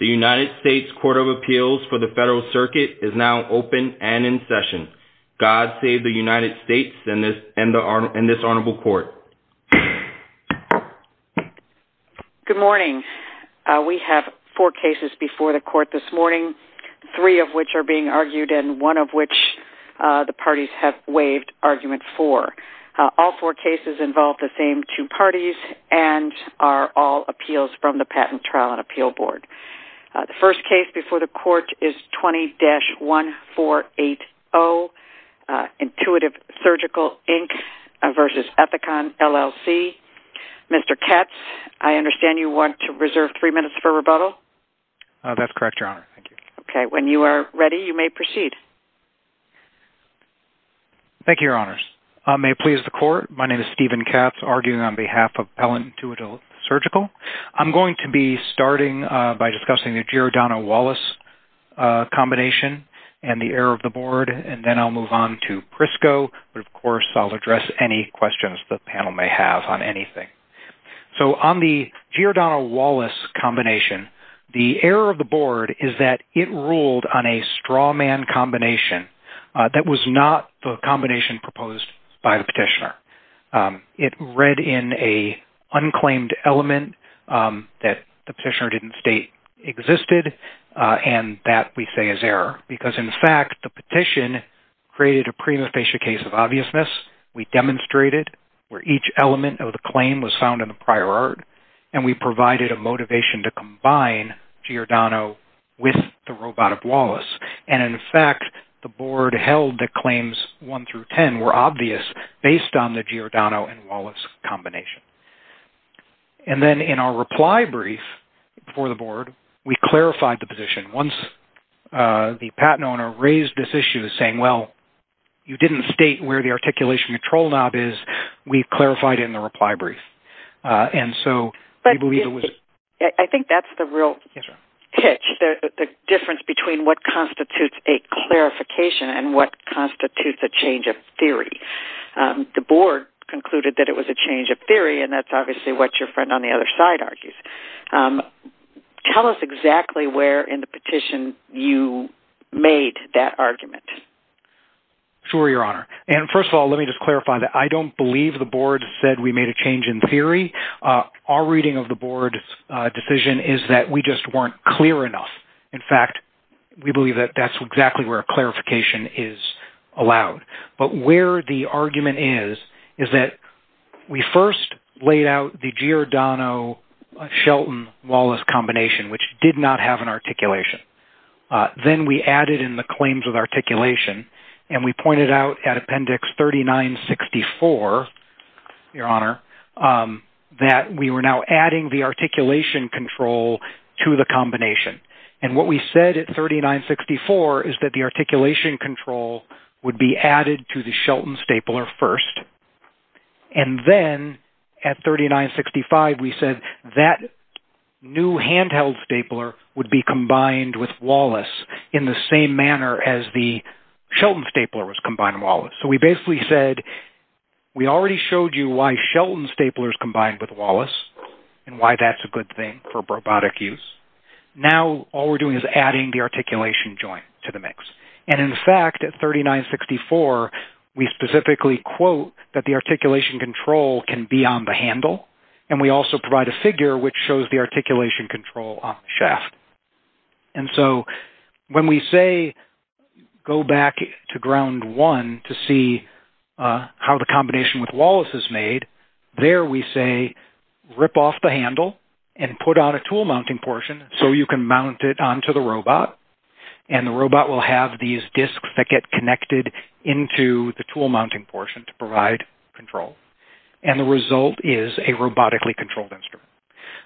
The United States Court of Appeals for the Federal Circuit is now open and in session. God save the United States and this honorable court. Good morning. We have four cases before the court this morning, three of which are being argued and one of which the parties have waived argument for. All four cases involve the same two parties and are all appeals from the Patent Trial and Appeal Board. The first case before the court is 20-1480, Intuitive Surgical, Inc. v. Ethicon LLC. Mr. Katz, I understand you want to reserve three minutes for rebuttal? That's correct, Your Honor. Thank you. Okay, when you are ready, you may proceed. Thank you, Your Honors. May it please the court, my name is Stephen Katz, arguing on behalf of Appellant Intuitive Surgical. I'm going to be starting by discussing the Giordano-Wallace combination and the error of the board, and then I'll move on to Prisco, but of course I'll address any questions the panel may have on anything. On the Giordano-Wallace combination, the error of the board is that it ruled on a straw man combination. That was not the combination proposed by the petitioner. It read in an unclaimed element that the petitioner didn't state existed, and that we say is error. Because in fact, the petition created a premonitation case of obviousness. We demonstrated where each element of the claim was found in the prior art, and we provided a motivation to combine Giordano with the robotic Wallace. And in fact, the board held that claims one through ten were obvious based on the Giordano-Wallace combination. And then in our reply brief for the board, we clarified the position. Once the patent owner raised this issue saying, well, you didn't state where the articulation control knob is, we clarified it in the reply brief. And so we believe it was... I think that's the real hitch, the difference between what constitutes a clarification and what constitutes a change of theory. The board concluded that it was a change of theory, and that's obviously what your friend on the other side argues. Tell us exactly where in the petition you made that argument. Sure, Your Honor. And first of all, let me just clarify that I don't believe the board said we made a change in theory. Our reading of the board's decision is that we just weren't clear enough. In fact, we believe that that's exactly where a clarification is allowed. But where the argument is, is that we first laid out the Giordano-Shelton-Wallace combination, which did not have an articulation. Then we added in the claims of articulation, and we pointed out at Appendix 3964, Your Honor, that we were now adding the articulation control to the combination. And what we said at 3964 is that the articulation control would be added to the Shelton stapler first. And then at 3965, we said that new handheld stapler would be combined with Wallace in the same manner as the Shelton stapler was combined with Wallace. So we basically said, we already showed you why Shelton staplers combined with Wallace, and why that's a good thing for robotic use. Now all we're doing is adding the articulation joint to the mix. And in fact, at 3964, we specifically quote that the articulation control can be on the handle, and we also provide a figure which shows the articulation control on the shaft. And so when we say, go back to Ground 1 to see how the combination with Wallace is made, there we say, rip off the handle and put on a tool mounting portion so you can mount it onto the robot. And the robot will have these disks that get connected into the tool mounting portion to provide control. And the result is a robotically controlled instrument.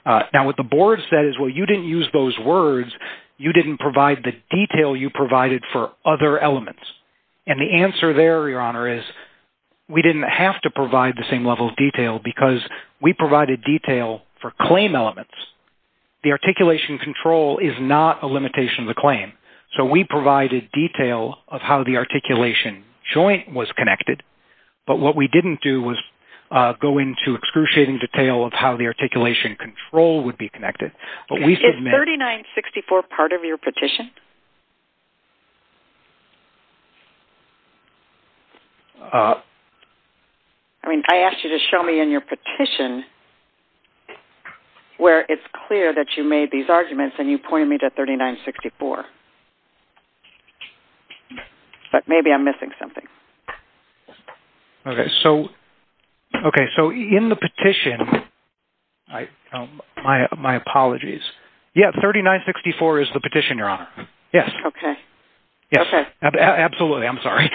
Now what the board said is, well, you didn't use those words. You didn't provide the detail you provided for other elements. And the answer there, Your Honor, is we didn't have to provide the same level of detail because we provided detail for claim elements. The articulation control is not a limitation of the claim. So we provided detail of how the articulation joint was connected. But what we didn't do was go into excruciating detail of how the articulation control would be connected. Is 3964 part of your petition? I mean, I asked you to show me in your petition where it's clear that you made these arguments, and you pointed me to 3964. But maybe I'm missing something. Okay, so in the petition, my apologies. Yeah, 3964 is the petition, Your Honor. Okay. Yes. Okay. Absolutely, I'm sorry.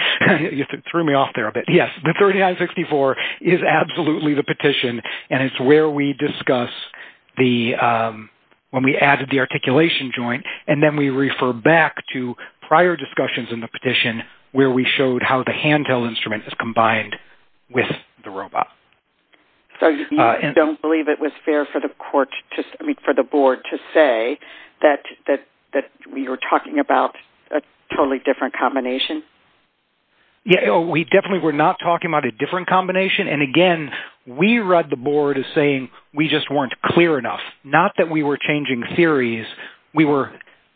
You threw me off there a bit. Yes, the 3964 is absolutely the petition. And it's where we discuss when we added the articulation joint. And then we refer back to prior discussions in the petition where we showed how the hand-held instrument is combined with the robot. So you don't believe it was fair for the board to say that we were talking about a totally different combination? We definitely were not talking about a different combination. And again, we read the board as saying we just weren't clear enough. Not that we were changing theories. We were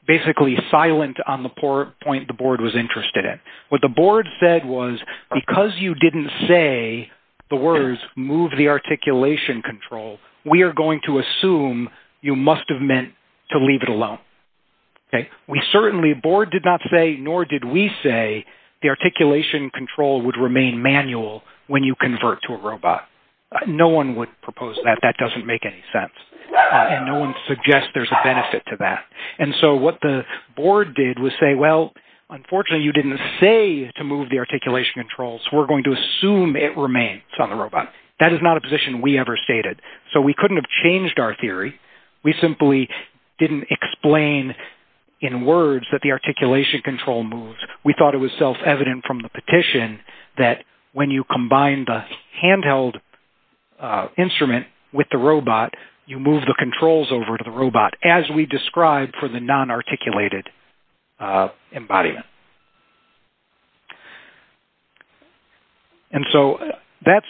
basically silent on the point the board was interested in. What the board said was, because you didn't say the words, move the articulation control, we are going to assume you must have meant to leave it alone. We certainly, the board did not say, nor did we say, the articulation control would remain manual when you convert to a robot. No one would propose that. That doesn't make any sense. And no one suggests there's a benefit to that. And so what the board did was say, well, unfortunately you didn't say to move the articulation controls. We're going to assume it remains on the robot. That is not a position we ever stated. So we couldn't have changed our theory. We simply didn't explain in words that the articulation control moved. We thought it was self-evident from the petition that when you combine the handheld instrument with the robot, you move the controls over to the robot, as we described for the non-articulated embodiment. And so that's,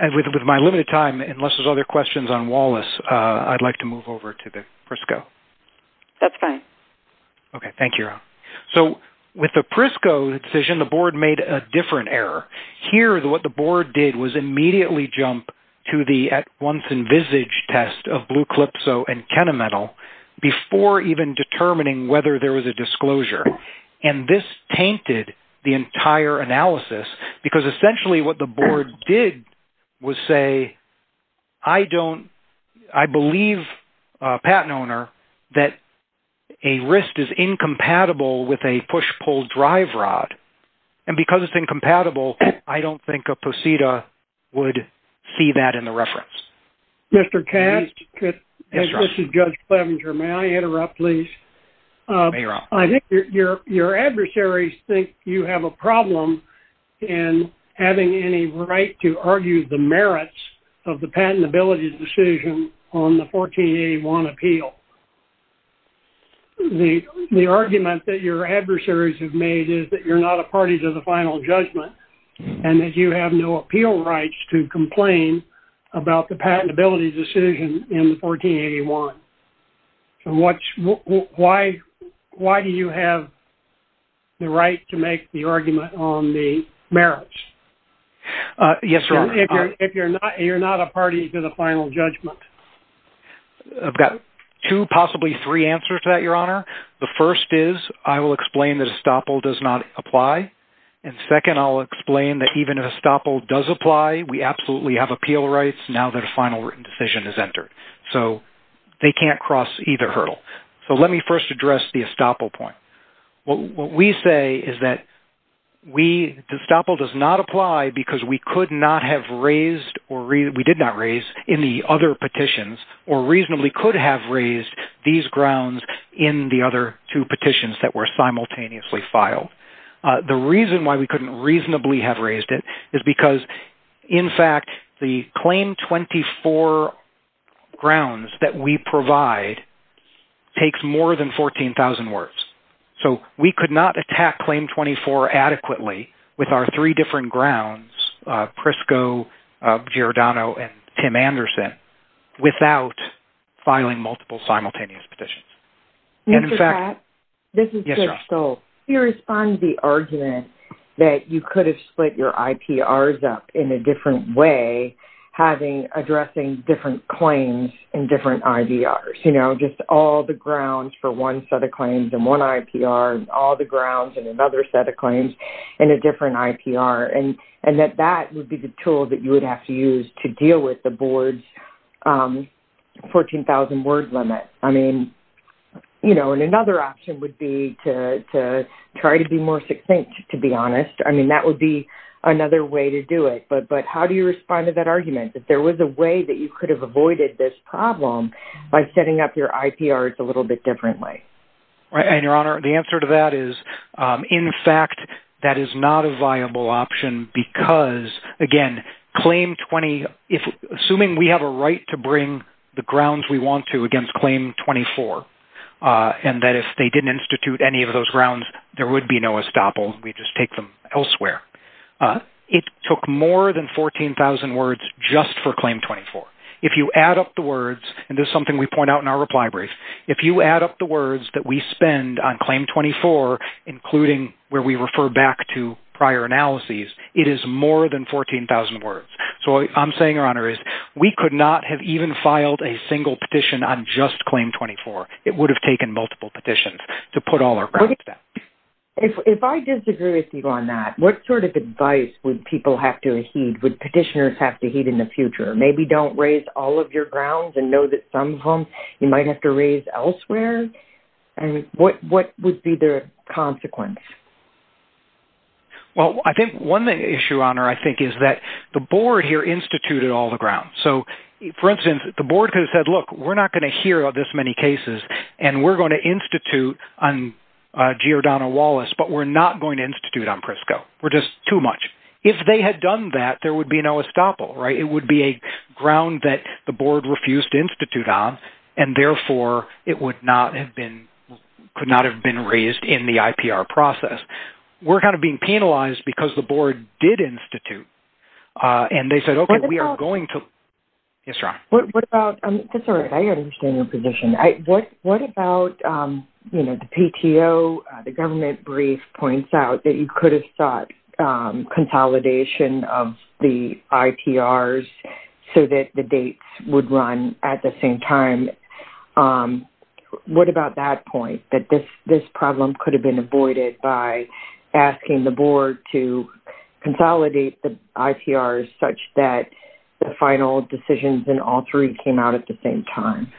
with my limited time, unless there's other questions on Wallace, I'd like to move over to the PRISCO. That's fine. Okay, thank you. So with the PRISCO decision, the board made a different error. Here, what the board did was immediately jump to the once envisaged test of Blue Calypso and Kenamental before even determining whether there was a disclosure. And this tainted the entire analysis, because essentially what the board did was say, I believe, patent owner, that a wrist is incompatible with a push-pull drive rod. And because it's incompatible, I don't think a POSITA would see that in the reference. Mr. Cash, this is Judge Clevenger. May I interrupt, please? I think your adversaries think you have a problem in having any right to argue the merits of the patentability decision on the 1481 appeal. The argument that your adversaries have made is that you're not a party to the final judgment, and that you have no appeal rights to complain about the patentability decision in the 1481. Why do you have the right to make the argument on the merits? Yes, Your Honor. If you're not a party to the final judgment. I've got two, possibly three answers to that, Your Honor. The first is, I will explain that estoppel does not apply. And second, I'll explain that even if estoppel does apply, we absolutely have appeal rights now that a final written decision is entered. So, they can't cross either hurdle. So, let me first address the estoppel point. What we say is that estoppel does not apply because we could not have raised, or we did not raise in the other petitions, or reasonably could have raised these grounds in the other two petitions that were simultaneously filed. The reason why we couldn't reasonably have raised it is because, in fact, the Claim 24 grounds that we provide takes more than 14,000 words. So, we could not attack Claim 24 adequately with our three different grounds, Prisco, Giordano, and Tim Anderson, without filing multiple simultaneous petitions. Mr. Pratt. Yes, Your Honor. This is Chris Stolz. He responds to the argument that you could have split your IPRs up in a different way, addressing different claims and different IVRs. You know, just all the grounds for one set of claims and one IPR, and all the grounds in another set of claims, and a different IPR. And that that would be the tool that you would have to use to deal with the board's 14,000-word limit. I mean, you know, and another option would be to try to be more succinct, to be honest. I mean, that would be another way to do it. But how do you respond to that argument, that there was a way that you could have avoided this problem by setting up your IPRs a little bit differently? And, Your Honor, the answer to that is, in fact, that is not a viable option because, again, Claim 20, assuming we have a right to bring the grounds we want to against Claim 24, and that if they didn't institute any of those grounds, there would be no estoppel, we'd just take them elsewhere. It took more than 14,000 words just for Claim 24. If you add up the words, and this is something we point out in our reply brief, if you add up the words that we spend on Claim 24, including where we refer back to prior analyses, it is more than 14,000 words. So what I'm saying, Your Honor, is we could not have even filed a single petition on just Claim 24. It would have taken multiple petitions to put all our grounds there. If I disagree with you on that, what sort of advice would people have to heed, would petitioners have to heed in the future? Maybe don't raise all of your grounds and know that some of them you might have to raise elsewhere? And what would be the consequence? Well, I think one issue, Your Honor, I think is that the board here instituted all the grounds. So, for instance, the board could have said, look, we're not going to hear of this many cases, and we're going to institute on Giordano Wallace, but we're not going to institute on Prisco. We're just too much. If they had done that, there would be no estoppel, right? It would be a ground that the board refused to institute on, and therefore, it would not have been, could not have been raised in the IPR process. We're kind of being penalized because the board did institute, and they said, okay, we are going to – What about – Yes, Your Honor. What about – that's all right. I understand your position. What about, you know, the PTO, the government brief points out that you could have sought consolidation of the IPRs so that the dates would run at the same time. What about that point, that this problem could have been avoided by asking the board to consolidate the IPRs such that the final decisions in all three came out at the same time?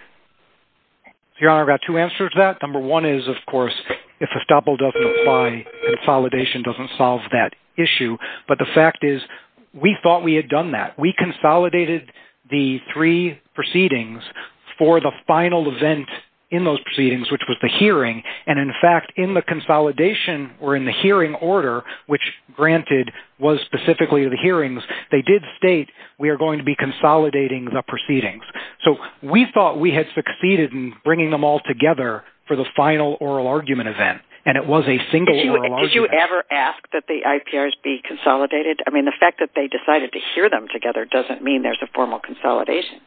Your Honor, I've got two answers to that. Number one is, of course, if estoppel doesn't apply, consolidation doesn't solve that issue. But the fact is, we thought we had done that. We consolidated the three proceedings for the final event in those proceedings, which was the hearing. And, in fact, in the consolidation or in the hearing order, which, granted, was specifically the hearings, they did state we are going to be consolidating the proceedings. So we thought we had succeeded in bringing them all together for the final oral argument event, and it was a single oral argument. Did you ever ask that the IPRs be consolidated? I mean, the fact that they decided to hear them together doesn't mean there's a formal consolidation.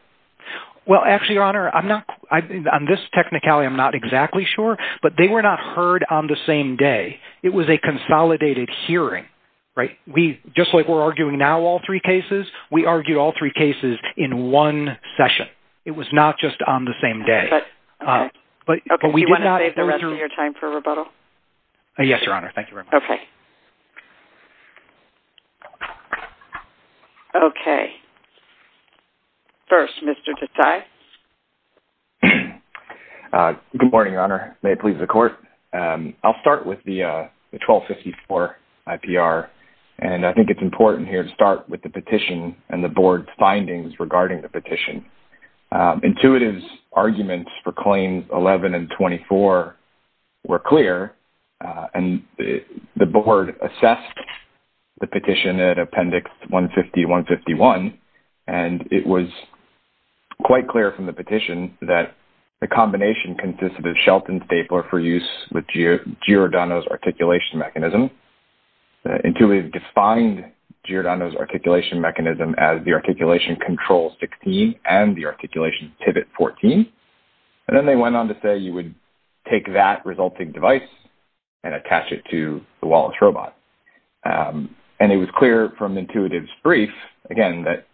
Well, actually, Your Honor, on this technicality, I'm not exactly sure, but they were not heard on the same day. It was a consolidated hearing, right? Just like we're arguing now all three cases, we argued all three cases in one session. It was not just on the same day. But you want to save the rest of your time for rebuttal? Yes, Your Honor. Thank you very much. Okay. Okay. First, Mr. Desai. Good morning, Your Honor. May it please the Court. I'll start with the 1254 IPR, and I think it's important here to start with the petition and the Board's findings regarding the petition. Intuitive's arguments for Claims 11 and 24 were clear, and the Board assessed the petition at Appendix 150-151, and it was quite clear from the petition that the combination consisted of Shelton's stapler for use with Giordano's articulation mechanism. Intuitive defined Giordano's articulation mechanism as the Articulation Control 16 and the Articulation Pivot 14, and then they went on to say you would take that resulting device and attach it to the Wallace robot. And it was clear from Intuitive's brief, again, that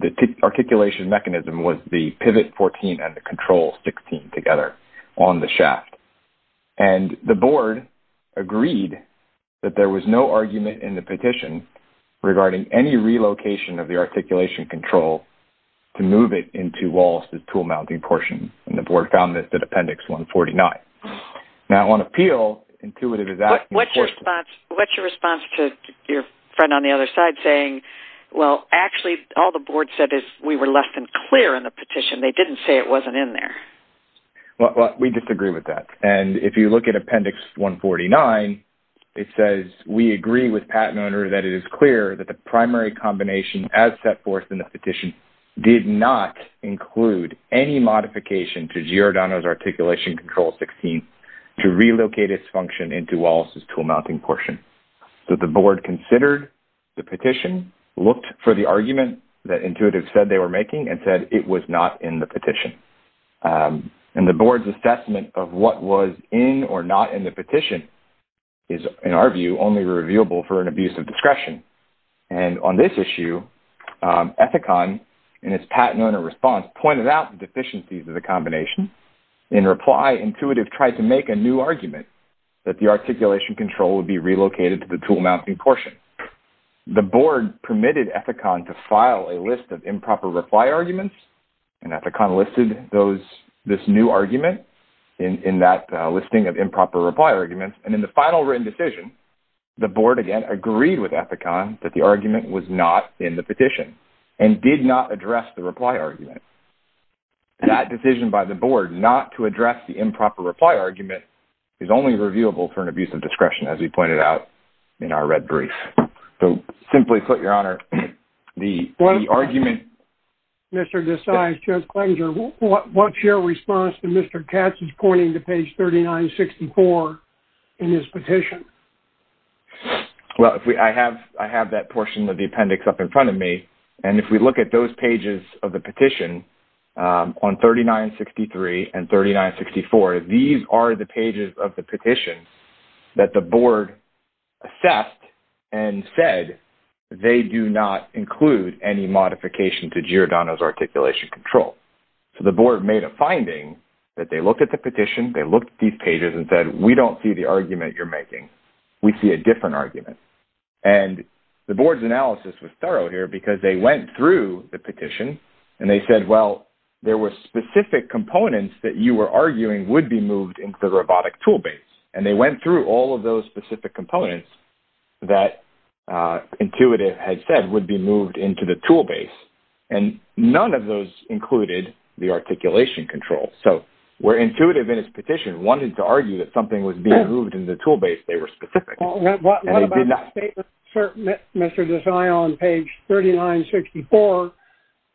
the articulation mechanism was the Pivot 14 and the Control 16 together on the shaft. And the Board agreed that there was no argument in the petition regarding any relocation of the Articulation Control to move it into Wallace's tool-mounting portion, and the Board found this at Appendix 149. Now, on appeal, Intuitive is asking for... What's your response to your friend on the other side saying, well, actually, all the Board said is we were left unclear in the petition. They didn't say it wasn't in there. Well, we disagree with that. And if you look at Appendix 149, it says we agree with Pat and Oner that it is clear that the primary combination as set forth in the petition did not include any modification to Giordano's Articulation Control 16 to relocate its function into Wallace's tool-mounting portion. So the Board considered the petition, looked for the argument that Intuitive said they were making, and said it was not in the petition. And the Board's assessment of what was in or not in the petition is, in our view, only reviewable for an abuse of discretion. And on this issue, Ethicon, in its Pat and Oner response, pointed out the deficiencies of the combination. In reply, Intuitive tried to make a new argument that the Articulation Control would be relocated to the tool-mounting portion. The Board permitted Ethicon to file a list of improper reply arguments, and Ethicon listed this new argument in that listing of improper reply arguments. And in the final written decision, the Board, again, agreed with Ethicon that the argument was not in the petition and did not address the reply argument. That decision by the Board, not to address the improper reply argument, is only reviewable for an abuse of discretion, as we pointed out in our red brief. So, simply put, Your Honor, the argument... Mr. Desai, Judge Clenger, what's your response to Mr. Katz's pointing to page 3964 in his petition? Well, I have that portion of the appendix up in front of me, and if we look at those pages of the petition on 3963 and 3964, these are the pages of the petition that the Board assessed and said they do not include any modification to Giordano's Articulation Control. So the Board made a finding that they looked at the petition, they looked at these pages, and said, We don't see the argument you're making. We see a different argument. And the Board's analysis was thorough here because they went through the petition, and they said, Well, there were specific components that you were arguing would be moved into the robotic tool base. And they went through all of those specific components that Intuitive had said would be moved into the tool base. And none of those included the Articulation Control. So, where Intuitive in his petition wanted to argue that something was being moved into the tool base, they were specific. What about the statement, Mr. Desai, on page 3964?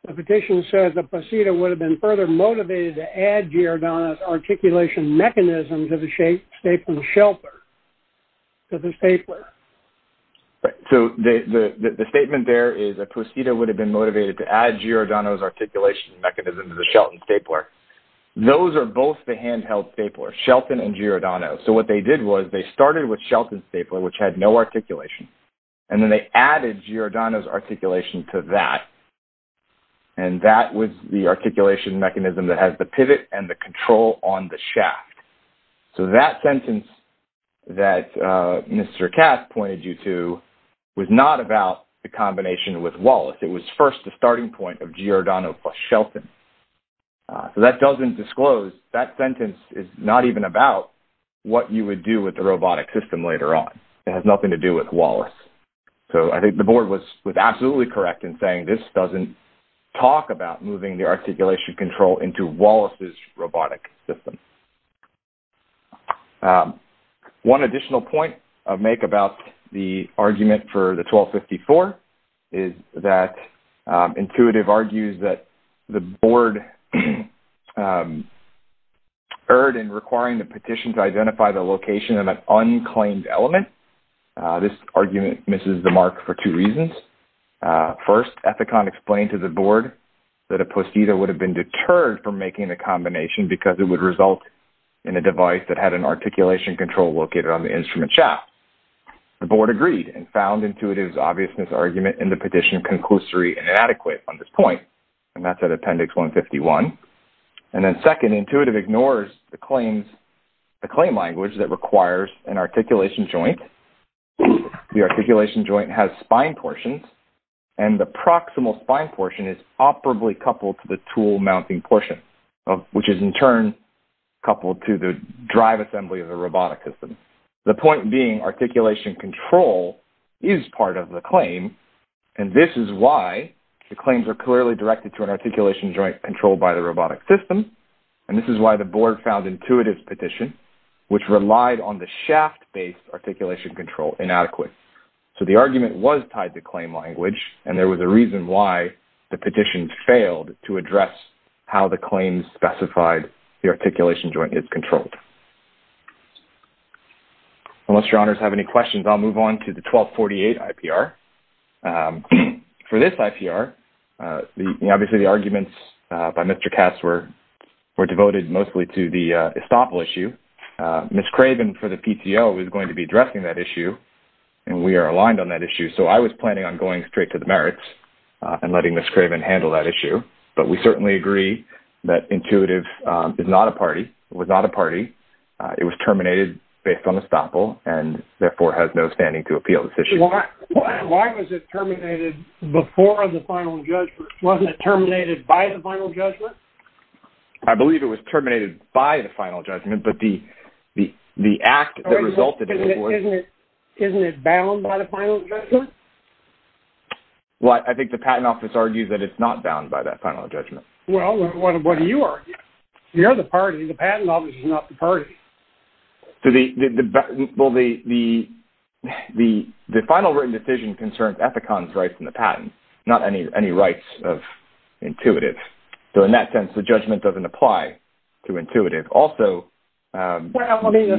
The petition said the posita would have been further motivated to add Giordano's Articulation Mechanism to the statement shelter, to the statement. So the statement there is a posita would have been motivated to add Giordano's Articulation Mechanism to the Shelton stapler. Those are both the handheld staplers, Shelton and Giordano. So what they did was they started with Shelton's stapler, which had no articulation. And then they added Giordano's articulation to that. And that was the articulation mechanism that has the pivot and the control on the shaft. So that sentence that Mr. Cass pointed you to was not about the combination with Wallace. It was first the starting point of Giordano plus Shelton. So that doesn't disclose, that sentence is not even about what you would do with the robotic system later on. It has nothing to do with Wallace. So I think the board was absolutely correct in saying this doesn't talk about moving the articulation control into Wallace's robotic system. One additional point I'll make about the argument for the 1254 is that Intuitive argues that the board erred in requiring the petition to identify the location of an unclaimed element. This argument misses the mark for two reasons. First, Ethicon explained to the board that a postida would have been deterred from making the combination because it would result in a device that had an articulation control located on the instrument shaft. The board agreed and found Intuitive's obviousness argument in the petition conclusory inadequate on this point. And that's at Appendix 151. And then second, Intuitive ignores the claim language that requires an articulation joint. The articulation joint has spine portions and the proximal spine portion is operably coupled to the tool mounting portion, which is in turn coupled to the drive assembly of the robotic system. The point being articulation control is part of the claim. And this is why the claims are clearly directed to an articulation joint controlled by the robotic system. And this is why the board found Intuitive's petition, which relied on the shaft-based articulation control, inadequate. So the argument was tied to claim language. And there was a reason why the petition failed to address how the claims specified the articulation joint is controlled. Unless your honors have any questions, I'll move on to the 1248 IPR. For this IPR, obviously the arguments by Mr. Katz were devoted mostly to the estoppel issue. Ms. Craven for the PTO was going to be addressing that issue, and we are aligned on that issue. So I was planning on going straight to the merits and letting Ms. Craven handle that issue. But we certainly agree that Intuitive is not a party. It was not a party. It was terminated based on estoppel, and therefore has no standing to appeal this issue. Why was it terminated before the final judgment? Wasn't it terminated by the final judgment? I believe it was terminated by the final judgment, but the act that resulted in it was. Isn't it bound by the final judgment? Well, I think the Patent Office argues that it's not bound by that final judgment. Well, what do you argue? You're the party. The Patent Office is not the party. So the final written decision concerns Ethicon's rights in the patent, not any rights of Intuitive. So in that sense, the judgment doesn't apply to Intuitive. Well, I mean,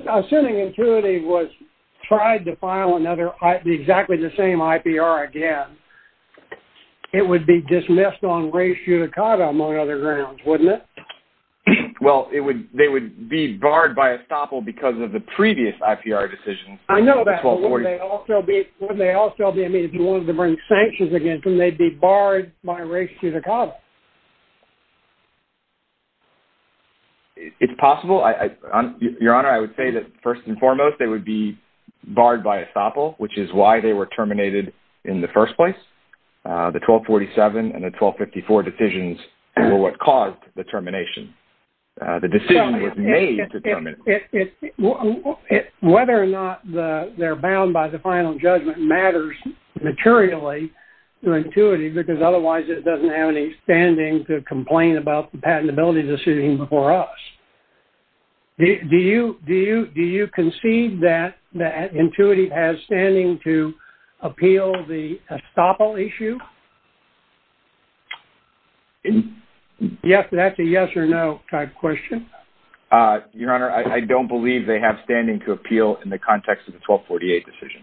assuming Intuitive tried to file exactly the same IPR again, it would be dismissed on res judicata among other grounds, wouldn't it? Well, they would be barred by estoppel because of the previous IPR decisions. I know that, but wouldn't they also be? I mean, if you wanted to bring sanctions against them, they'd be barred by res judicata. It's possible. Your Honor, I would say that, first and foremost, they would be barred by estoppel, which is why they were terminated in the first place. The 1247 and the 1254 decisions were what caused the termination. The decision was made to terminate them. Whether or not they're bound by the final judgment matters materially to Intuitive because otherwise it doesn't have any standing to complain about the patentability decision before us. Do you conceive that Intuitive has standing to appeal the estoppel issue? That's a yes or no type question. Your Honor, I don't believe they have standing to appeal in the context of the 1248 decision.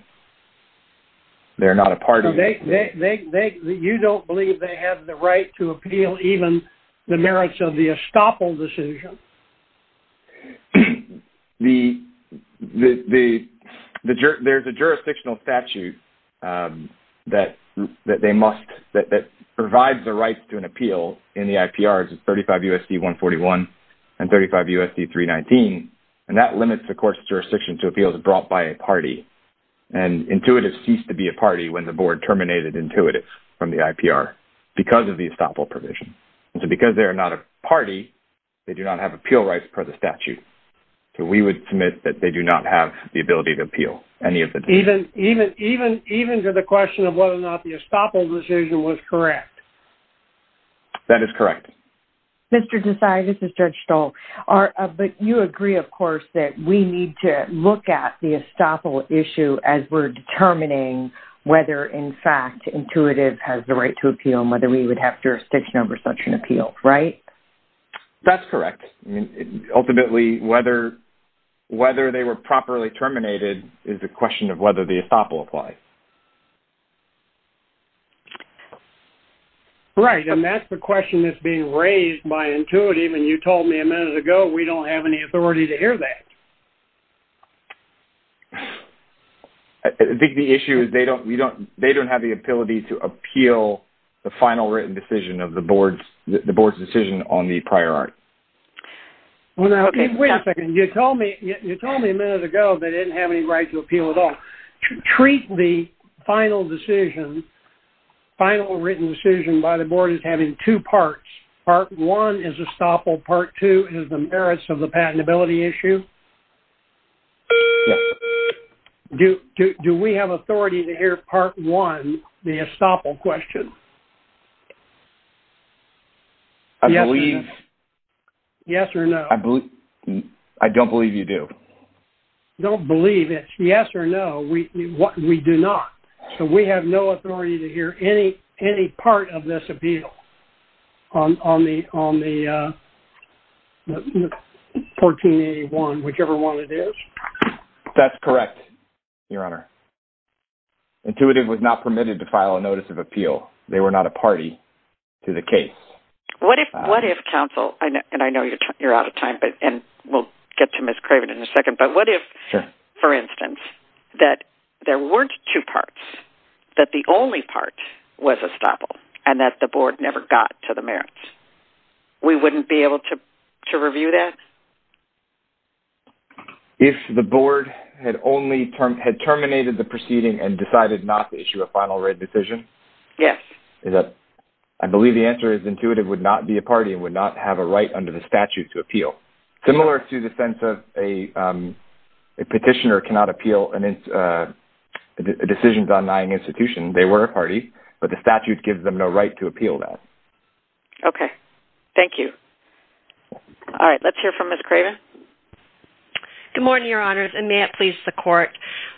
They're not a part of it. You don't believe they have the right to appeal even the merits of the estoppel decision? There's a jurisdictional statute that provides the right to an appeal in the IPRs, 35 U.S.C. 141 and 35 U.S.C. 319, and that limits the court's jurisdiction to appeals brought by a party. Intuitive ceased to be a party when the board terminated Intuitive from the IPR because of the estoppel provision. Because they're not a party, they do not have appeal rights per the statute. We would submit that they do not have the ability to appeal any of the decisions. Even to the question of whether or not the estoppel decision was correct? That is correct. Mr. Desai, this is Judge Stoll. You agree, of course, that we need to look at the estoppel issue as we're determining whether, in fact, Intuitive has the right to appeal and whether we would have jurisdiction over such an appeal, right? That's correct. Ultimately, whether they were properly terminated is a question of whether the estoppel applies. Right, and that's the question that's being raised by Intuitive, and you told me a minute ago we don't have any authority to hear that. I think the issue is they don't have the ability to appeal the final written decision of the board's decision on the prior art. Wait a second. You told me a minute ago they didn't have any right to appeal at all. Treat the final written decision by the board as having two parts. Part one is estoppel. Part two is the merits of the patentability issue. Do we have authority to hear part one, the estoppel question? I believe... Yes or no? I don't believe you do. Don't believe it. Yes or no, we do not. So we have no authority to hear any part of this appeal on the 1481, whichever one it is? That's correct, Your Honor. Intuitive was not permitted to file a notice of appeal. They were not a party to the case. What if counsel, and I know you're out of time, and we'll get to Ms. Craven in a second, but what if, for instance, that there weren't two parts, that the only part was estoppel, and that the board never got to the merits? We wouldn't be able to review that? If the board had terminated the proceeding and decided not to issue a final written decision? Yes. I believe the answer is intuitive, would not be a party, and would not have a right under the statute to appeal. Similar to the sense of a petitioner cannot appeal a decision done by an institution. They were a party, but the statute gives them no right to appeal that. Okay. Thank you. All right, let's hear from Ms. Craven. Good morning, Your Honors, and may it please the Court,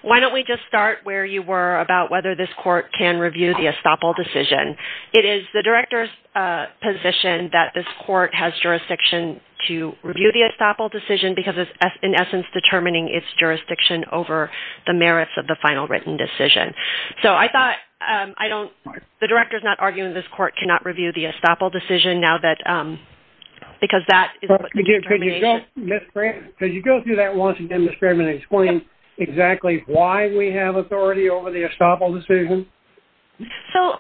why don't we just start where you were about whether this Court can review the estoppel decision. It is the Director's position that this Court has jurisdiction to review the estoppel decision because it's, in essence, determining its jurisdiction over the merits of the final written decision. So I thought, I don't, the Director's not arguing this Court cannot review the estoppel decision now that, because that is what the determination… Could you go through that once again, Ms. Craven, and explain exactly why we have authority over the estoppel decision? So,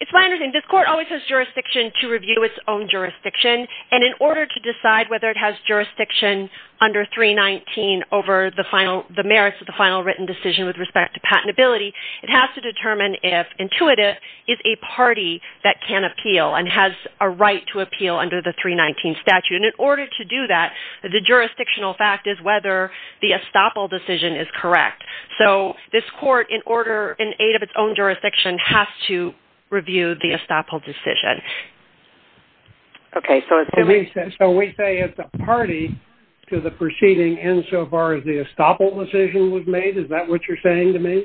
it's my understanding, this Court always has jurisdiction to review its own jurisdiction, and in order to decide whether it has jurisdiction under 319 over the merits of the final written decision with respect to patentability, it has to determine if Intuitive is a party that can appeal and has a right to appeal under the 319 statute. And in order to do that, the jurisdictional fact is whether the estoppel decision is correct. So, this Court, in order, in aid of its own jurisdiction, has to review the estoppel decision. Okay, so it's… So we say it's a party to the proceeding insofar as the estoppel decision was made? Is that what you're saying to me?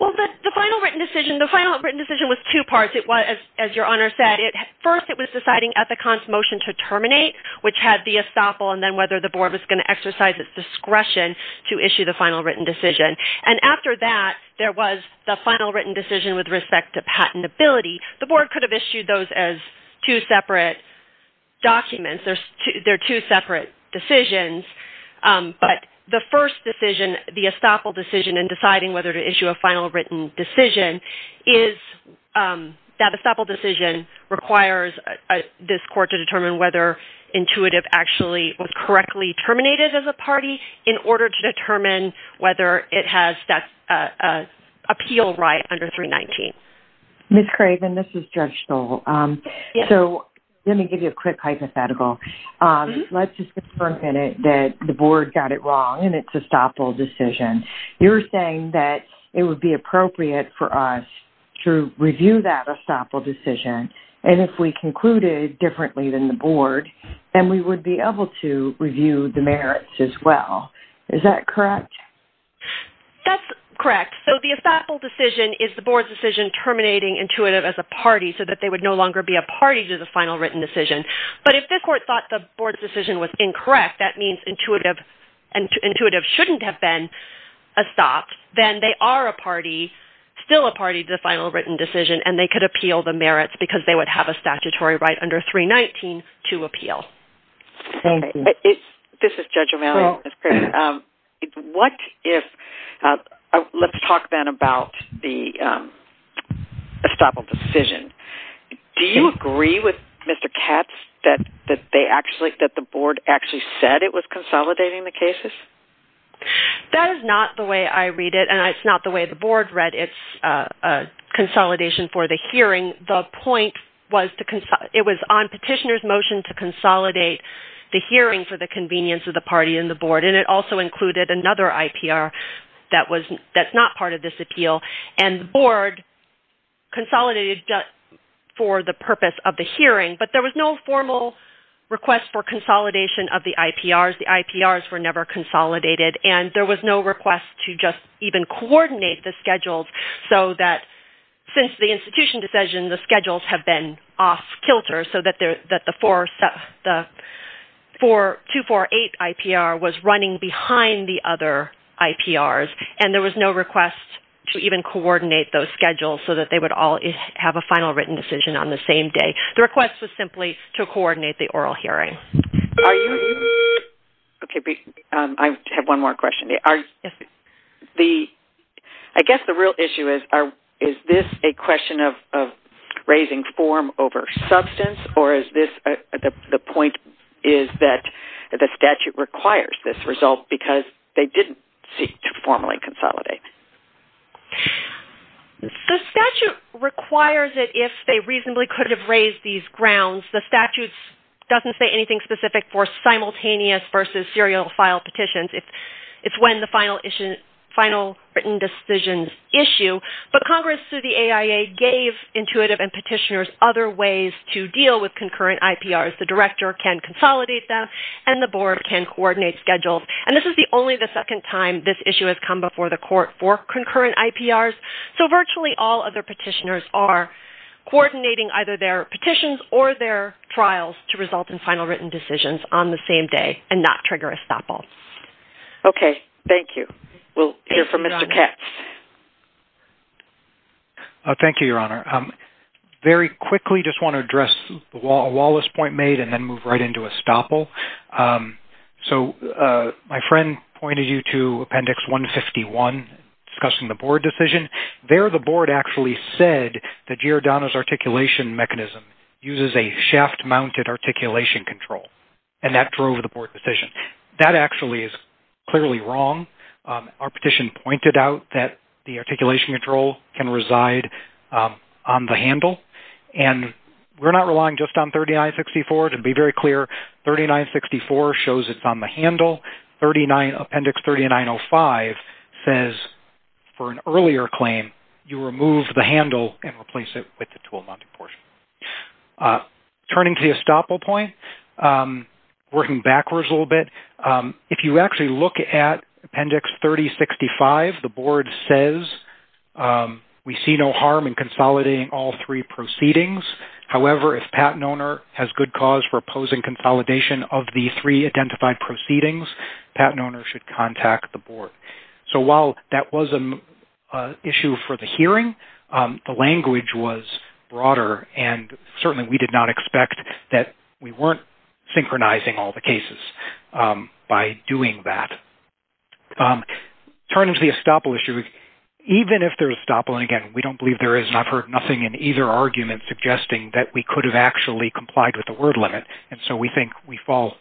Well, the final written decision, the final written decision was two parts. It was, as your Honor said, first it was deciding Ethicon's motion to terminate, which had the estoppel and then whether the Board was going to exercise its discretion to issue the final written decision. And after that, there was the final written decision with respect to patentability. The Board could have issued those as two separate documents. They're two separate decisions, but the first decision, the estoppel decision, in deciding whether to issue a final written decision, is that estoppel decision requires this Court to determine whether Intuitive actually was correctly terminated as a party in order to determine whether it has that appeal right under 319. Ms. Craven, this is Judge Stoll. So, let me give you a quick hypothetical. Let's just confirm a minute that the Board got it wrong and it's estoppel decision. You're saying that it would be appropriate for us to review that estoppel decision and if we concluded differently than the Board, then we would be able to review the merits as well. Is that correct? That's correct. So, the estoppel decision is the Board's decision terminating Intuitive as a party so that they would no longer be a party to the final written decision. But if this Court thought the Board's decision was incorrect, that means Intuitive shouldn't have been estopped, then they are still a party to the final written decision and they could appeal the merits because they would have a statutory right under 319 to appeal. Thank you. This is Judge O'Malley. Ms. Craven, let's talk then about the estoppel decision. Do you agree with Mr. Katz that the Board actually said it was consolidating the cases? That is not the way I read it and it's not the way the Board read its consolidation for the hearing. The point was it was on Petitioner's motion to consolidate the hearing for the convenience of the party and the Board and it also included another IPR that's not part of this appeal and the Board consolidated just for the purpose of the hearing. But there was no formal request for consolidation of the IPRs. The IPRs were never consolidated and there was no request to just even coordinate the schedules so that since the institution decision, the schedules have been off kilter so that the 248 IPR was running behind the other IPRs and there was no request to even coordinate those schedules so that they would all have a final written decision on the same day. The request was simply to coordinate the oral hearing. I have one more question. I guess the real issue is, is this a question of raising form over substance or is the point is that the statute requires this result because they didn't seek to formally consolidate? The statute requires it if they reasonably could have raised these grounds. The statute doesn't say anything specific for simultaneous versus serial file petitions. It's when the final written decisions issue. But Congress through the AIA gave intuitive and petitioners other ways to deal with concurrent IPRs. The director can consolidate them and the Board can coordinate schedules. And this is only the second time this issue has come before the court for concurrent IPRs. So virtually all other petitioners are coordinating either their petitions or their trials to result in final written decisions on the same day and not trigger a stop all. Okay, thank you. We'll hear from Mr. Katz. Thank you, Your Honor. Very quickly just want to address a lawless point made and then move right into a stop all. So my friend pointed you to Appendix 151 discussing the Board decision. There the Board actually said that Giordano's articulation mechanism uses a shaft-mounted articulation control. And that drove the Board decision. That actually is clearly wrong. Our petition pointed out that the articulation control can reside on the handle. And we're not relying just on 3964. To be very clear, 3964 shows it's on the handle. Appendix 3905 says for an earlier claim, you remove the handle and replace it with the tool-mounted portion. Turning to the stop all point, working backwards a little bit, if you actually look at Appendix 3065, the Board says we see no harm in consolidating all three proceedings. However, if patent owner has good cause for opposing consolidation of the three identified proceedings, patent owner should contact the Board. So while that was an issue for the hearing, the language was broader. And certainly we did not expect that we weren't synchronizing all the cases. By doing that. Turning to the estoppel issue, even if there's estoppel, and again, we don't believe there is. And I've heard nothing in either argument suggesting that we could have actually complied with the word limit. And so we think we fall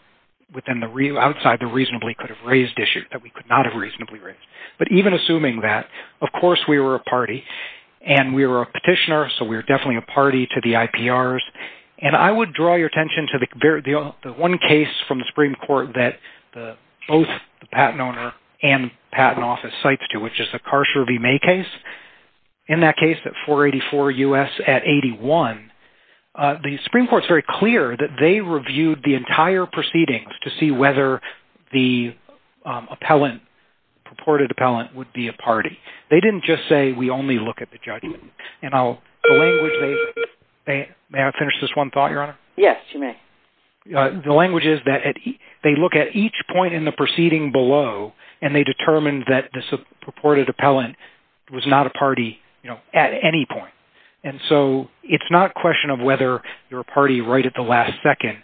outside the reasonably could have raised issue, that we could not have reasonably raised. But even assuming that, of course we were a party. And we were a petitioner, so we were definitely a party to the IPRs. And I would draw your attention to the one case from the Supreme Court that both the patent owner and patent office cites to, which is the Karsher v. May case. In that case at 484 U.S. at 81, the Supreme Court is very clear that they reviewed the entire proceedings to see whether the appellant, purported appellant, would be a party. They didn't just say we only look at the judgment. May I finish this one thought, Your Honor? Yes, you may. The language is that they look at each point in the proceeding below, and they determine that this purported appellant was not a party at any point. And so it's not a question of whether you're a party right at the last second.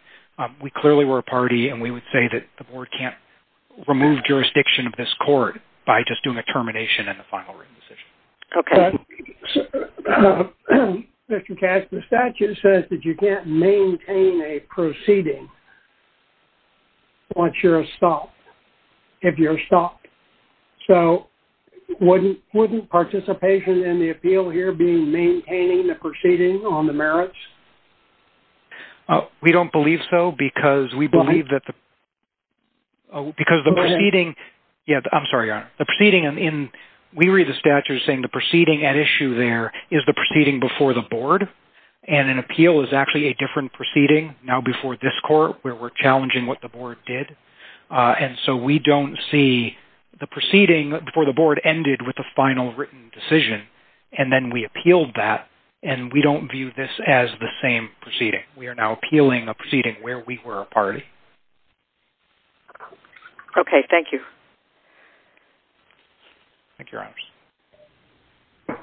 We clearly were a party, and we would say that the board can't remove jurisdiction of this court by just doing a termination and a final written decision. Okay. Mr. Cash, the statute says that you can't maintain a proceeding once you're stopped, if you're stopped. So wouldn't participation in the appeal here be maintaining the proceeding on the merits? We don't believe so because we believe that the... Why? Because the proceeding... Go ahead. The statute is saying the proceeding at issue there is the proceeding before the board, and an appeal is actually a different proceeding, now before this court, where we're challenging what the board did. And so we don't see the proceeding before the board ended with a final written decision, and then we appealed that, and we don't view this as the same proceeding. We are now appealing a proceeding where we were a party. Okay, thank you. Thank you, Your Honors.